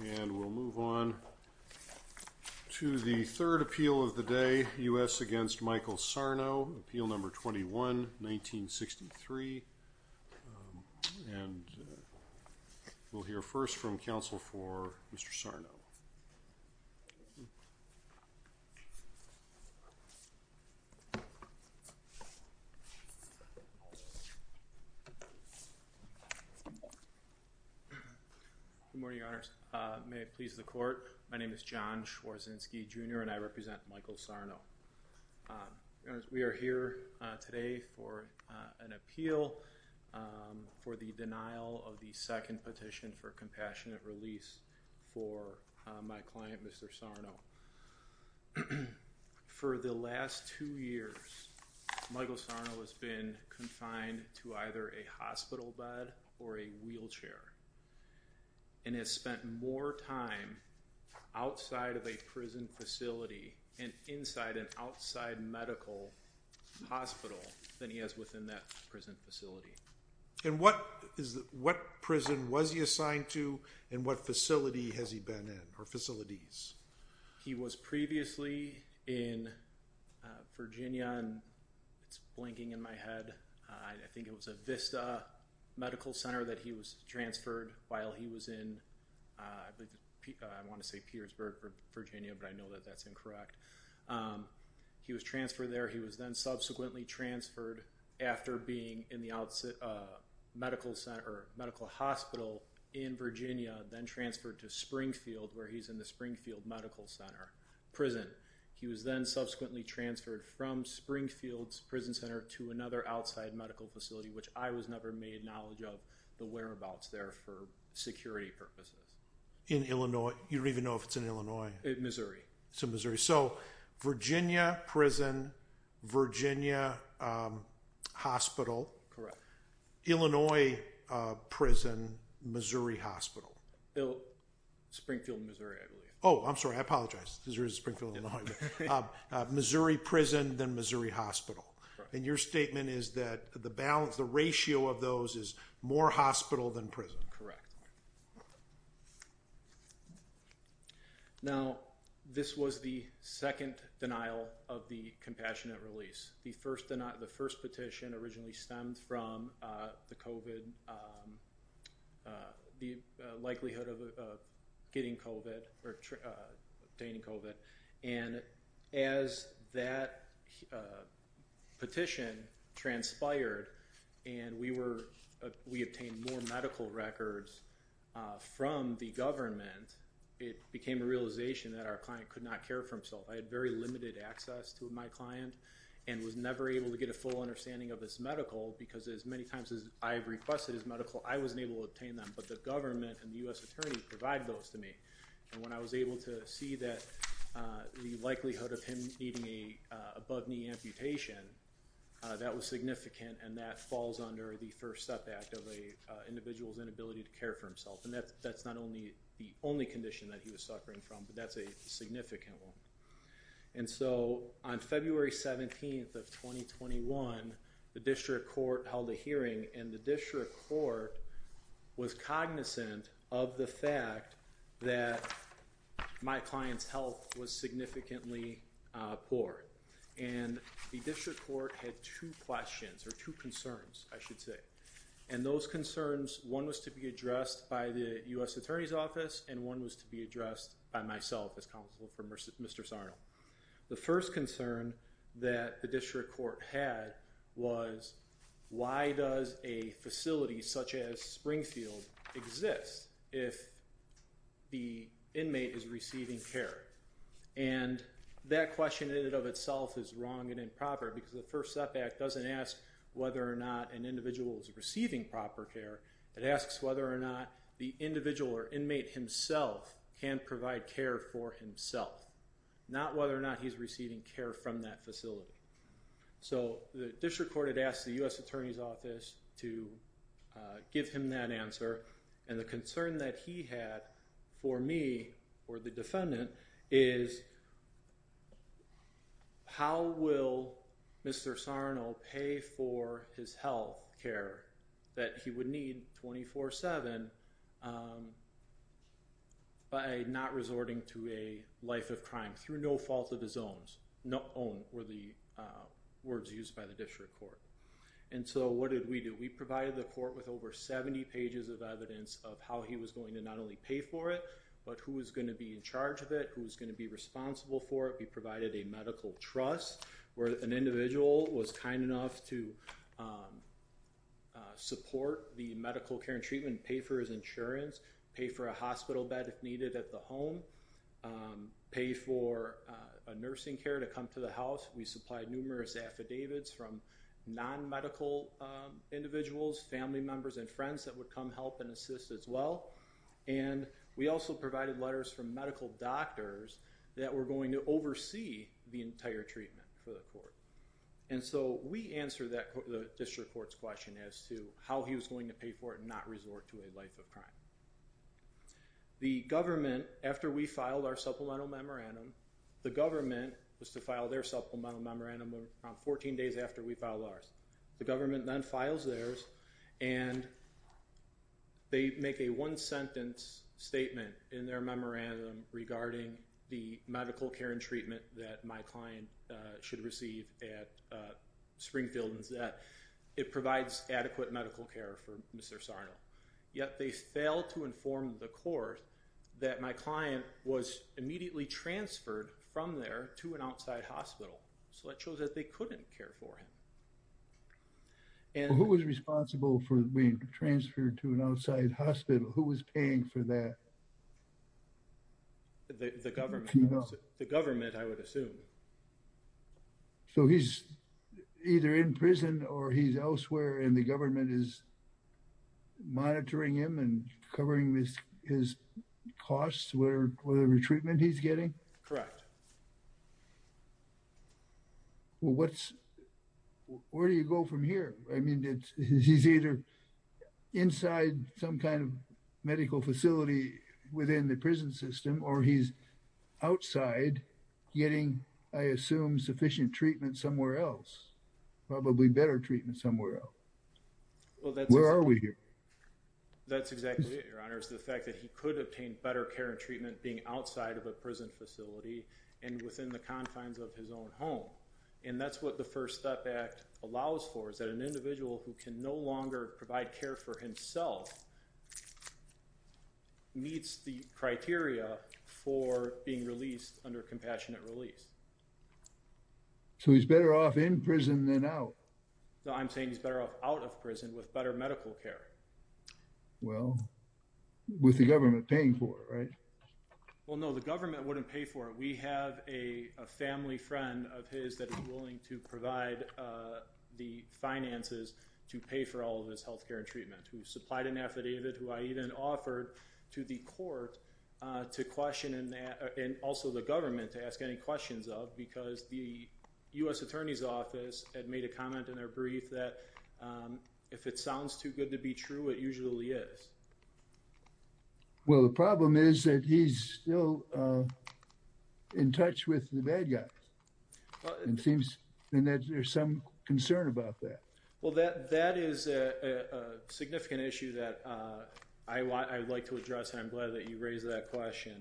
and we'll move on to the third appeal of the day US against Michael Sarno appeal number 21 1963 and we'll hear first from counsel for mr. Sarno Good morning your honors may it please the court my name is John Schwarzinski jr. and I represent Michael Sarno we are here today for an appeal for the denial of the second petition for compassionate release for my client mr. Sarno for the last two years Michael Sarno has been confined to either a hospital bed or a wheelchair and has spent more time outside of a prison facility and inside an outside medical hospital than he has within that prison facility and what is that what prison was he assigned to and what facility has he been in or facilities he was previously in Virginia and it's blinking in my head I think it was a Vista Medical Center that he was transferred while he was in I want to say Petersburg Virginia but I know that that's incorrect he was transferred there he was then subsequently transferred after being in the outset a medical center medical hospital in Virginia then transferred to Springfield where he's in the Springfield Medical Center prison he was then subsequently transferred from Springfield's prison center to another outside medical facility which I was never made knowledge of the whereabouts there for security purposes in Illinois you don't even know if it's in Illinois Missouri so Missouri so Virginia prison Virginia Hospital correct Illinois prison Missouri Hospital Springfield Missouri I believe oh I'm sorry I apologize there is a Springfield Missouri prison than Missouri Hospital and your statement is that the balance the ratio of those is more hospital than prison correct now this was the second denial of the compassionate release the first denial the first petition originally stemmed from the COVID the likelihood of getting COVID or obtaining COVID and as that petition transpired and we were we obtained more medical records from the government it became a realization that our client could not care for himself I had limited access to my client and was never able to get a full understanding of this medical because as many times as I've requested his medical I wasn't able to obtain them but the government and the US Attorney provided those to me and when I was able to see that the likelihood of him needing a above-knee amputation that was significant and that falls under the first step act of a individual's inability to care for himself and that's that's not only the only condition that he was suffering from but that's a significant one and so on February 17th of 2021 the district court held a hearing and the district court was cognizant of the fact that my clients health was significantly poor and the district court had two questions or two concerns I should say and those concerns one was to be addressed by the US Attorney's Office and one was to be addressed by myself as counsel for mr. Sarno the first concern that the district court had was why does a facility such as Springfield exist if the inmate is receiving care and that question in it of itself is wrong and improper because the first step back doesn't ask whether or not an individual is receiving proper care it asks whether or not the individual or inmate himself can provide care for himself not whether or not he's receiving care from that facility so the district court had asked the US Attorney's Office to give him that answer and the concern that he had for me or the defendant is how will mr. Sarno pay for his health care that he would need 24 7 by not resorting to a life of crime through no fault of his own no own or the words used by the district court and so what did we do we provided the court with over 70 pages of evidence of how he was going to not only pay for it but who was going to be in charge of it who was going to be responsible for it we provided a medical trust where an individual was kind enough to support the medical care and treatment pay for his insurance pay for a hospital bed if needed at the home pay for a nursing care to come to the house we supplied numerous affidavits from non members and friends that would come help and assist as well and we also provided letters from medical doctors that were going to oversee the entire treatment for the court and so we answer that court the district courts question as to how he was going to pay for it not resort to a life of crime the government after we filed our supplemental memorandum the government was to file their supplemental memorandum around 14 days after we file ours the government then files theirs and they make a one-sentence statement in their memorandum regarding the medical care and treatment that my client should receive at Springfield is that it provides adequate medical care for mr. Sarno yet they failed to inform the court that my client was immediately transferred from there to an outside hospital so that shows that they couldn't care for him and who was responsible for being transferred to an outside hospital who was paying for that the government the government I would assume so he's either in prison or he's elsewhere and the government is well what's where do you go from here I mean he's either inside some kind of medical facility within the prison system or he's outside getting I assume sufficient treatment somewhere else probably better treatment somewhere else well that's where are we here that's exactly the fact that he could obtain better care and treatment being outside of a prison facility and within the confines of his own home and that's what the First Step Act allows for is that an individual who can no longer provide care for himself meets the criteria for being released under compassionate release so he's better off in prison than out so I'm saying he's better off out of prison with better medical care well with the government paying for it right well no the government wouldn't pay for it we have a family friend of his that is willing to provide the finances to pay for all of his health care and treatment who supplied an affidavit who I even offered to the court to question in that and also the government to ask any questions of because the US Attorney's too good to be true it usually is well the problem is that he's still in touch with the bad guys and seems and that there's some concern about that well that that is a significant issue that I want I'd like to address I'm glad that you raised that question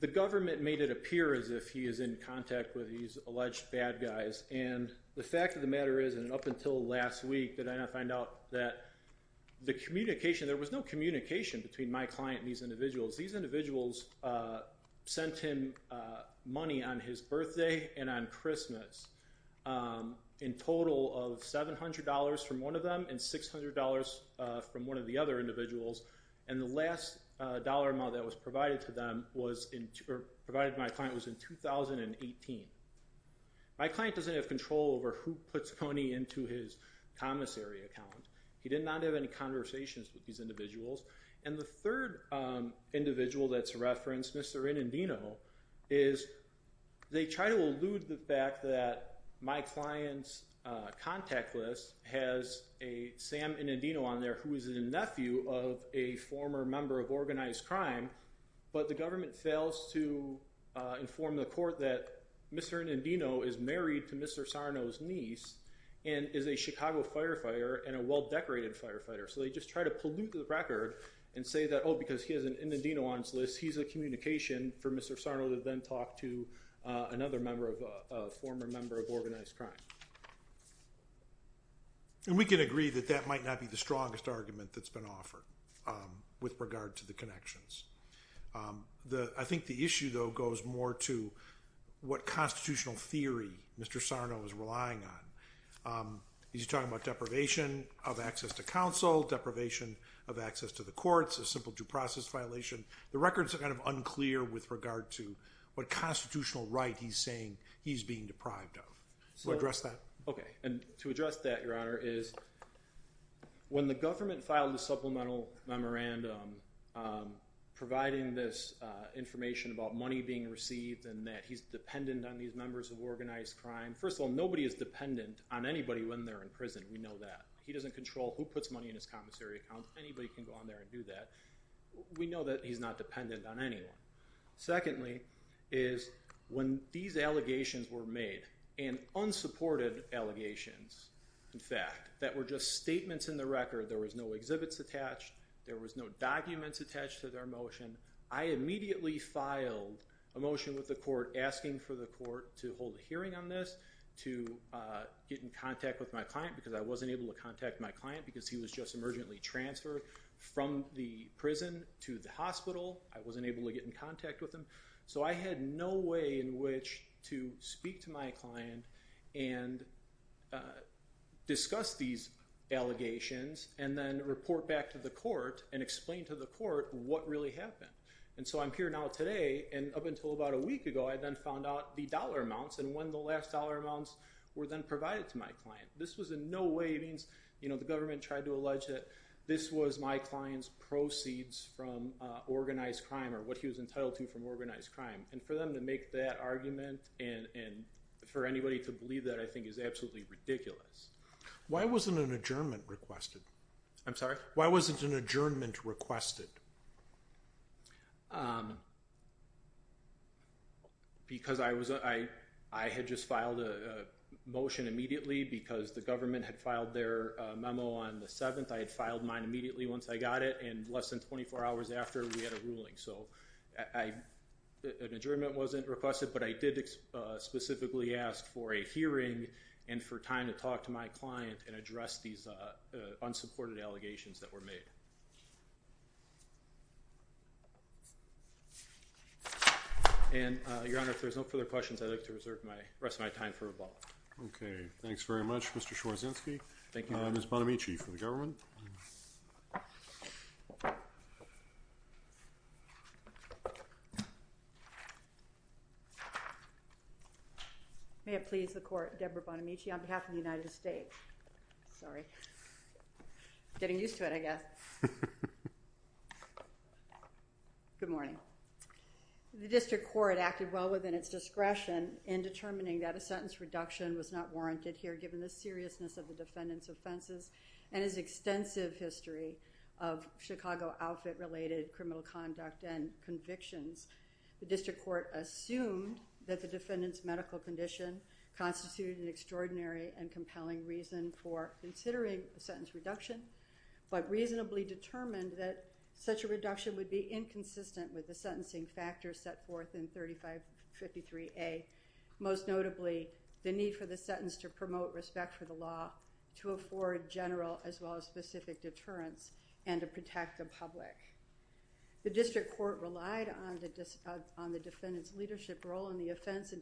the government made it appear as if he is in contact with these alleged bad guys and the fact of the matter is and up until last week did I not find out that the communication there was no communication between my client these individuals these individuals sent him money on his birthday and on Christmas in total of $700 from one of them and $600 from one of the other individuals and the last dollar amount that was in 2018 my client doesn't have control over who puts money into his commissary account he did not have any conversations with these individuals and the third individual that's referenced mr. in Indino is they try to elude the fact that my clients contact list has a Sam in Indino on there who is a nephew of a former member of organized crime but the government fails to inform the court that mr. in Indino is married to mr. Sarno's niece and is a Chicago firefighter and a well-decorated firefighter so they just try to pollute the record and say that oh because he isn't in the Dino on his list he's a communication for mr. Sarno to then talk to another member of former member of organized crime and we can agree that that might not be the strongest argument that's been offered with regard to the connections the I think the issue though goes more to what constitutional theory mr. Sarno is relying on he's talking about deprivation of access to counsel deprivation of access to the courts a simple due process violation the records are kind of unclear with regard to what constitutional right he's saying he's being deprived of so address that and to address that your honor is when the government filed a supplemental memorandum providing this information about money being received and that he's dependent on these members of organized crime first of all nobody is dependent on anybody when they're in prison we know that he doesn't control who puts money in his commissary account anybody can go on there and do that we know that he's not dependent on anyone secondly is when these allegations were made and unsupported allegations in fact that were just statements in the record there was no exhibits attached there was no documents attached to their motion I immediately filed a motion with the court asking for the court to hold a hearing on this to get in contact with my client because I wasn't able to contact my client because he was just emergently transferred from the prison to the client and discuss these allegations and then report back to the court and explain to the court what really happened and so I'm here now today and up until about a week ago I then found out the dollar amounts and when the last dollar amounts were then provided to my client this was in no way means you know the government tried to allege that this was my clients proceeds from organized crime or what he was entitled to from organized crime and for them to make that argument and and for anybody to believe that I think is absolutely ridiculous why wasn't an adjournment requested I'm sorry why wasn't an adjournment requested because I was I I had just filed a motion immediately because the government had filed their memo on the 7th I had filed mine immediately once I got it and less than 24 hours after we had a ruling so I an adjournment wasn't requested but I did specifically ask for a hearing and for time to talk to my client and address these unsupported allegations that were made and your honor if there's no further questions I'd like to reserve my rest of my time for a ball okay thanks very much mr. Schwarzenegger thank you may it please the court Debra Bonamici on behalf of the United States sorry getting used to it I guess good morning the district court acted well within its discretion in determining that a sentence reduction was not warranted here given the seriousness of the defendants offenses and his extensive history of Chicago outfit related criminal conduct and convictions the that the defendants medical condition constituted an extraordinary and compelling reason for considering a sentence reduction but reasonably determined that such a reduction would be inconsistent with the sentencing factors set forth in 3553 a most notably the need for the sentence to promote respect for the law to afford general as well as specific deterrence and to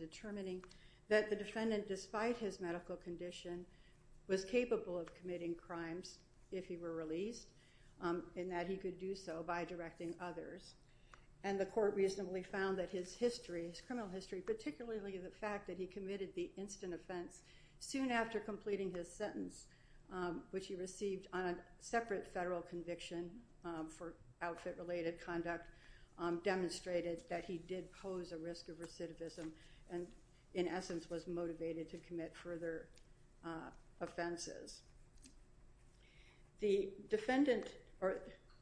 determining that the defendant despite his medical condition was capable of committing crimes if he were released and that he could do so by directing others and the court reasonably found that his history is criminal history particularly the fact that he committed the instant offense soon after completing his sentence which he received on a separate federal conviction for outfit related conduct demonstrated that he did pose a risk of recidivism and in essence was motivated to commit further offenses the defendant or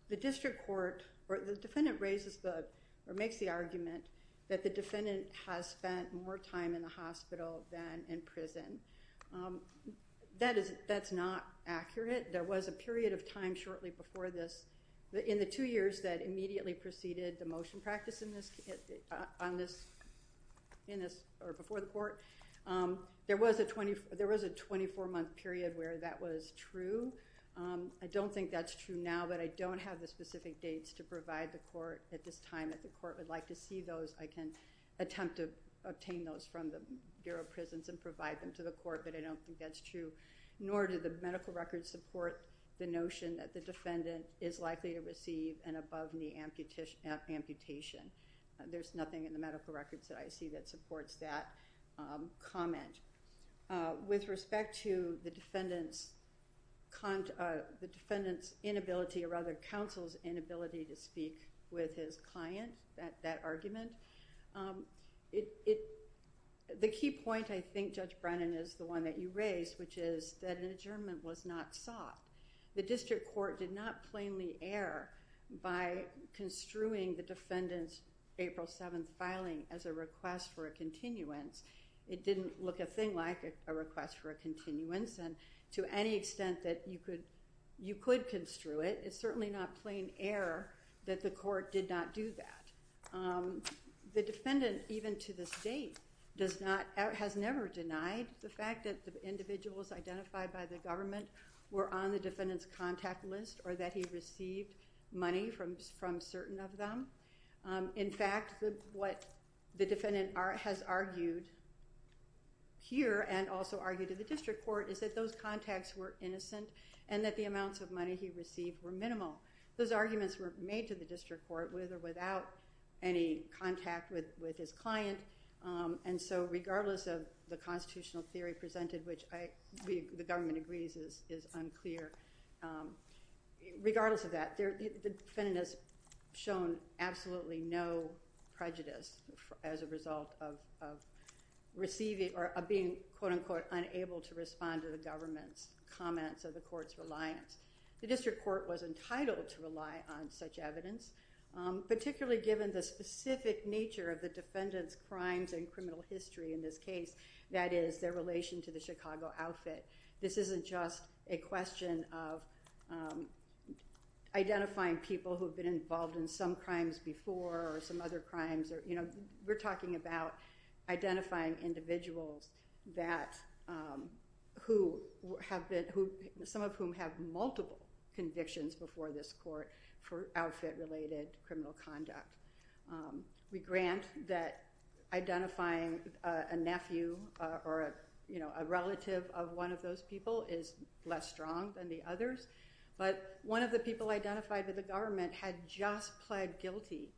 the district court or the defendant raises the or makes the argument that the defendant has spent more time in the hospital than in prison that is that's not accurate there was a period of time shortly before this but in the two years that immediately preceded the motion practice in this on this in this or before the court there was a 20 there was a 24 month period where that was true I don't think that's true now but I don't have the specific dates to provide the court at this time that the court would like to see those I can attempt to obtain those from the Bureau of Prisons and provide them to the court but I don't think that's true nor did the medical records support the notion that the defendant is likely to receive an above-knee amputation amputation there's nothing in the medical records that I see that supports that comment with respect to the defendant's con the defendant's inability or other counsel's inability to speak with his client that that argument it the key point I think judge Brennan is the one that you raised which is that an adjournment was not sought the district court did not plainly err by construing the defendants April 7th filing as a request for a continuance it didn't look a thing like a request for a continuance and to any extent that you could you could construe it it's certainly not plain error that the court did not do that the defendant even to this date does not has never denied the fact that the individuals identified by the government were on the defendants contact list or that he received money from from certain of them in fact what the defendant art has argued here and also argued to the district court is that those contacts were innocent and that the amounts of money he received were minimal those arguments were made to the district court with or without any contact with with his client and so regardless of the constitutional theory presented which I the government agrees is unclear regardless of that there the defendant has shown absolutely no prejudice as a result of receiving or being quote-unquote unable to respond to the government's comments of the court's reliance the district court was entitled to rely on such evidence particularly given the specific nature of the defendants crimes and criminal history in this case that is their relation to the Chicago outfit this isn't just a question of identifying people who have been involved in some crimes before or some other crimes or you know we're talking about identifying individuals that who have been who some of whom have multiple convictions before this court for outfit related criminal conduct we grant that identifying a nephew or a you know a relative of one of those people is less strong than the others but one of the people identified with the government had just pled guilty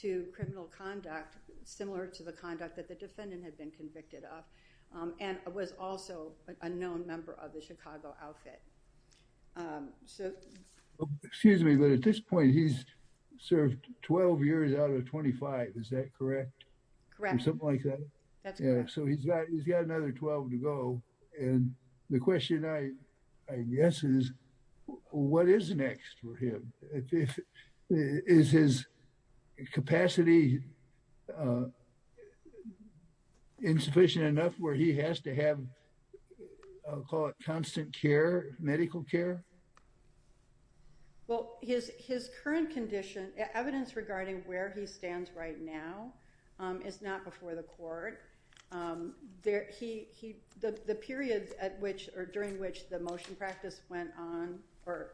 to criminal conduct similar to the conduct that the defendant had been convicted of and was also a member of the Chicago outfit so excuse me but at this point he's served 12 years out of 25 is that correct correct something like that yeah so he's got he's got another 12 to go and the question I guess is what is next for him if it is his capacity insufficient enough where he has to have I'll call it constant care medical care well his his current condition evidence regarding where he stands right now it's not before the court there he the periods at which or during which the motion practice went on or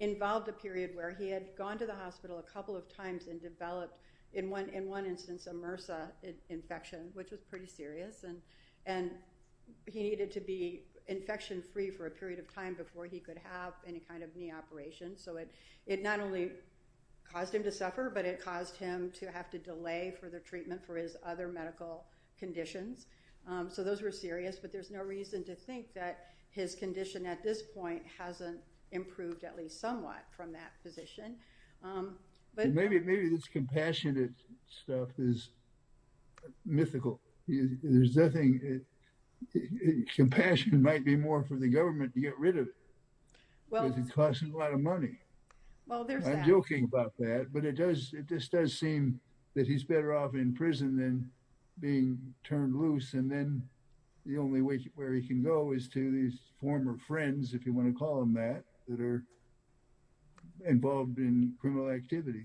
involved a period where he had gone to the hospital a couple of times and developed in one in one instance a MRSA infection which was pretty serious and and he needed to be infection free for a period of time before he could have any kind of knee operation so it it only caused him to suffer but it caused him to have to delay for the treatment for his other medical conditions so those were serious but there's no reason to think that his condition at this point hasn't improved at least somewhat from that position but maybe maybe this compassionate stuff is mythical there's nothing compassion might be more for the government to get rid of well because a lot of money well there's no joking about that but it does it just does seem that he's better off in prison than being turned loose and then the only way where he can go is to these former friends if you want to call him that that are involved in criminal activity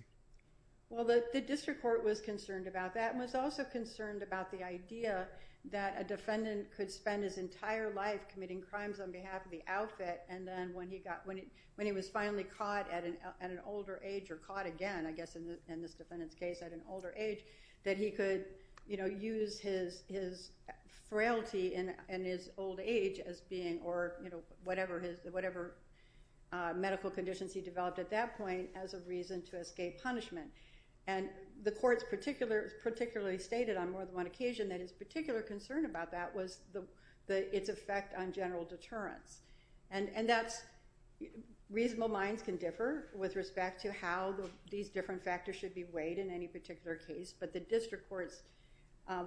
well that the district court was concerned about that was also concerned about the idea that a defendant could spend his entire life committing crimes on behalf of the outfit and then when he got when he when he was finally caught at an at an older age or caught again I guess in this defendant's case at an older age that he could you know use his his frailty in and his old age as being or you know whatever his whatever medical conditions he developed at that point as a reason to escape punishment and the courts particular particularly stated on more than one occasion that his particular concern about that was the the its effect on general deterrence and and that's reasonable minds can differ with respect to how these different factors should be weighed in any particular case but the district courts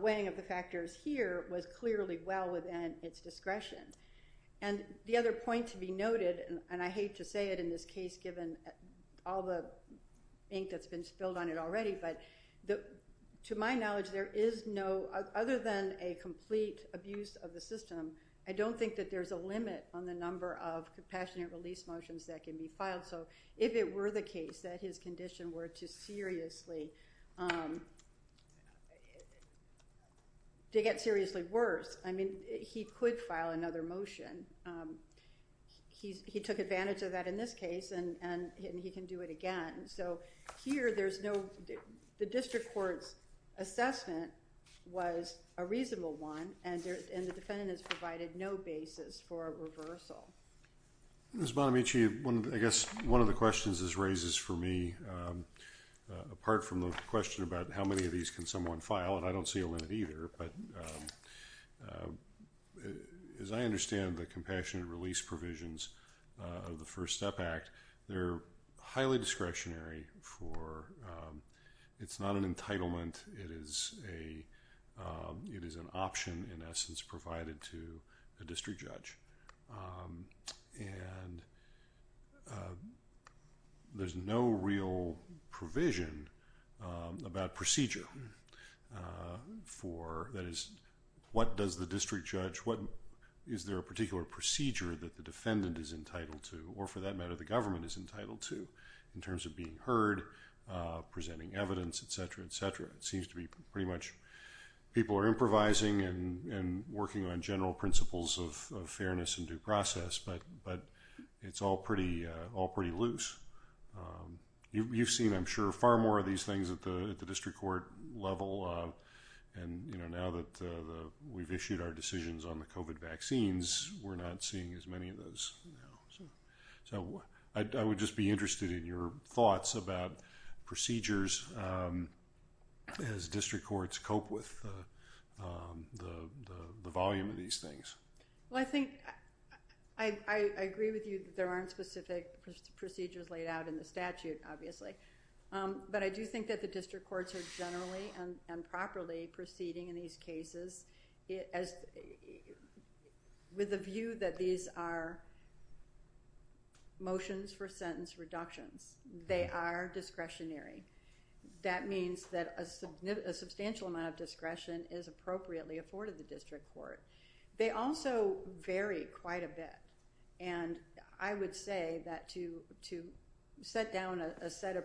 weighing of the factors here was clearly well within its discretion and the other point to be noted and I hate to say it in this case given all the ink that's been spilled on it already but the to my knowledge there is no other than a complete abuse of the system I don't think that there's a limit on the number of compassionate release motions that can be filed so if it were the case that his condition were to seriously to get seriously worse I mean he could file another motion he took advantage of that in this case and and he can do it again so here there's no the district courts assessment was a reasonable one and the defendant has provided no basis for a reversal miss Bonamici one I guess one of the questions this raises for me apart from the question about how many of these can someone file and I don't see a limit either but as I understand the compassionate release provisions of the first step act they're highly discretionary for it's not an entitlement it is a it is an option in essence provided to a district judge and there's no real provision about procedure for that is what does the district judge what is there a particular procedure that the defendant is entitled to or for that matter the government is entitled to in terms of being heard presenting evidence etc etc it seems to be pretty much people are improvising and working on general principles of fairness and due process but but it's all pretty all pretty loose you've seen I'm sure far more of these things at the district court level and you know now that we've issued our decisions on the kovat vaccines we're not seeing as many of those so I would just be interested in your thoughts about procedures as district courts cope with the volume of these things well I think I agree with you there aren't specific procedures laid out in the statute obviously but I do think that the district courts are generally and properly proceeding in these cases as with a view that these are motions for sentence reductions they are discretionary that means that a substantial amount of discretion is appropriately afforded the district court they also vary quite a bit and I would say that to to set down a set of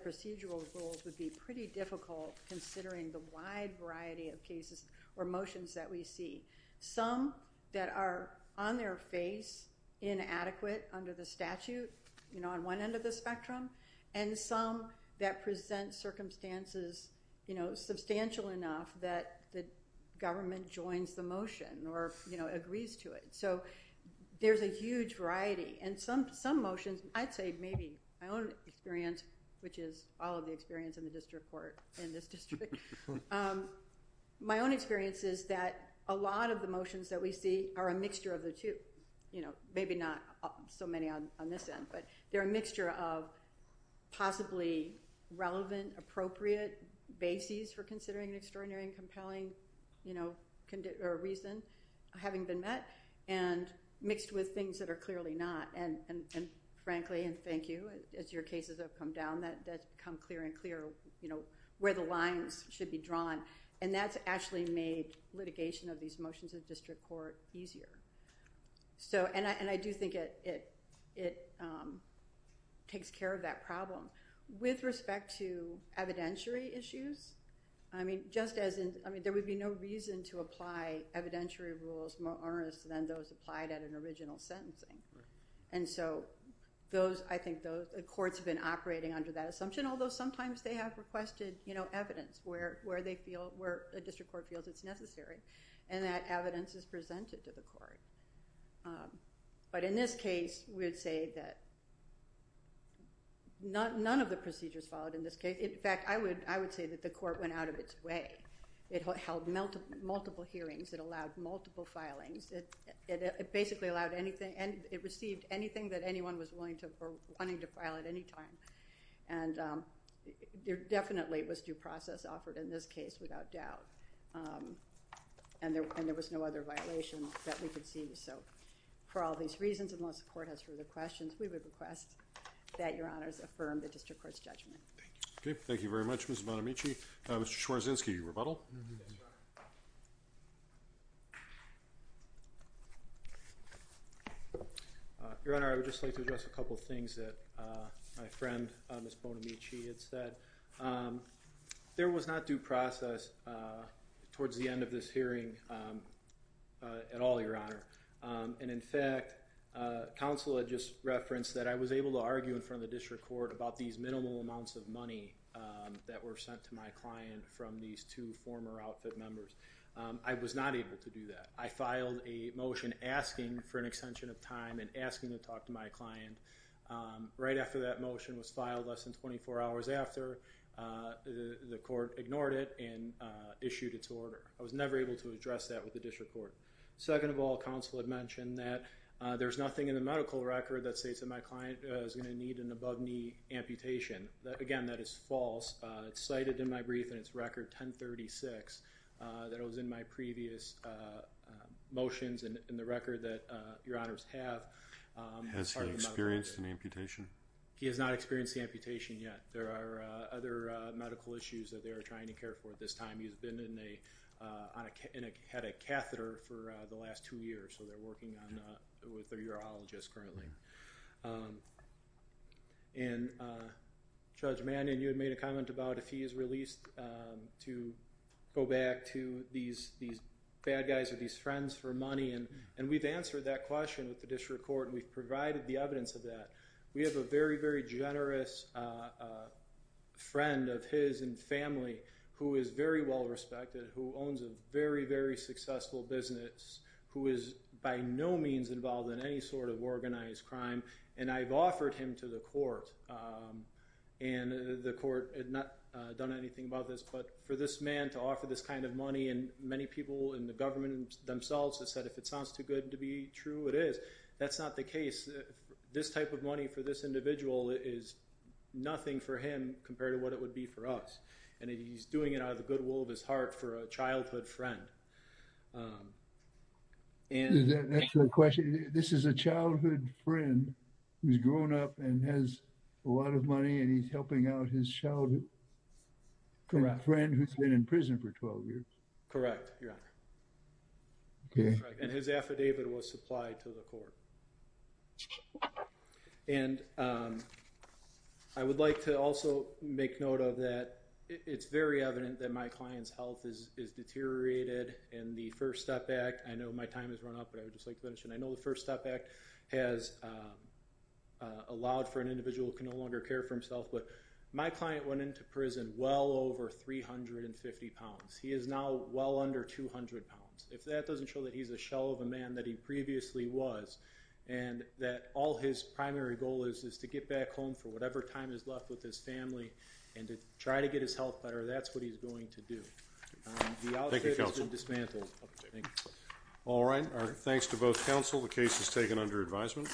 cases or motions that we see some that are on their face inadequate under the statute you know on one end of the spectrum and some that present circumstances you know substantial enough that the government joins the motion or you know agrees to it so there's a huge variety and some some motions I'd say maybe my own experience which is all of the experience in the district court in my own experience is that a lot of the motions that we see are a mixture of the two you know maybe not so many on this end but they're a mixture of possibly relevant appropriate bases for considering an extraordinary and compelling you know condition or reason having been met and mixed with things that are clearly not and and frankly and thank you as your cases have come down that that's become clear and clear you know where the lines should be drawn and that's actually made litigation of these motions of district court easier so and I and I do think it it it takes care of that problem with respect to evidentiary issues I mean just as in I mean there would be no reason to apply evidentiary rules more earnest than those applied at an under that assumption although sometimes they have requested you know evidence where where they feel where a district court feels it's necessary and that evidence is presented to the court but in this case we would say that not none of the procedures followed in this case in fact I would I would say that the court went out of its way it held melted multiple hearings that allowed multiple filings it basically allowed anything and it received anything that anyone was willing to wanting to file at any time and there definitely was due process offered in this case without doubt and there and there was no other violation that we could see so for all these reasons unless the court has further questions we would request that your honors affirm the district courts judgment okay thank you very much mr. Bonamici Mr. Schwarzynski rebuttal your honor I would just like to address a couple things that my friend miss Bonamici had said there was not due process towards the end of this hearing at all your honor and in fact counsel had just referenced that I was able to argue in front of the district court about these minimal amounts of money that were sent to my client from these two former outfit members I was not able to do that I filed a motion asking for an extension of time and asking to talk to my client right after that motion was filed less than 24 hours after the court ignored it and issued its order I was never able to address that with the district court second of all counsel had mentioned that there's nothing in the medical record that states that my client is going to need an above-knee amputation again that is false it's cited in my brief and its record 1036 that it was in my previous motions and in the record that your honors have has experienced an amputation he has not experienced the amputation yet there are other medical issues that they are trying to care for at this time he's been in a on a head a catheter for the last two years so they're working on with their urologist currently and judge man and you had made a comment about if he is released to go back to these these bad guys are these friends for money and and we've answered that question with the district court we've provided the evidence of that we have a very very generous friend of his and family who is very well respected who owns a very very successful business who is by no means involved in any sort of organized crime and I've offered him to the court and the court had not done anything about this but for this man to offer this kind of money and many people in the government themselves have said if it sounds too good to be true it is that's not the case this type of money for this individual is nothing for him compared to what it would be for us and he's doing it out of the goodwill of his heart for a childhood friend and that's the question this is a childhood friend who's grown up and has a lot of money and he's helping out his childhood friend who's been in prison for 12 years correct yeah okay and his affidavit was it's very evident that my client's health is deteriorated and the First Step Act I know my time has run out but I would just like to mention I know the First Step Act has allowed for an individual who can no longer care for himself but my client went into prison well over 350 pounds he is now well under 200 pounds if that doesn't show that he's a shell of a man that he previously was and that all his primary goal is is to get back home for whatever time is left with his family and to try to get his health better that's what he's going to do all right thanks to both counsel the case is taken under advisement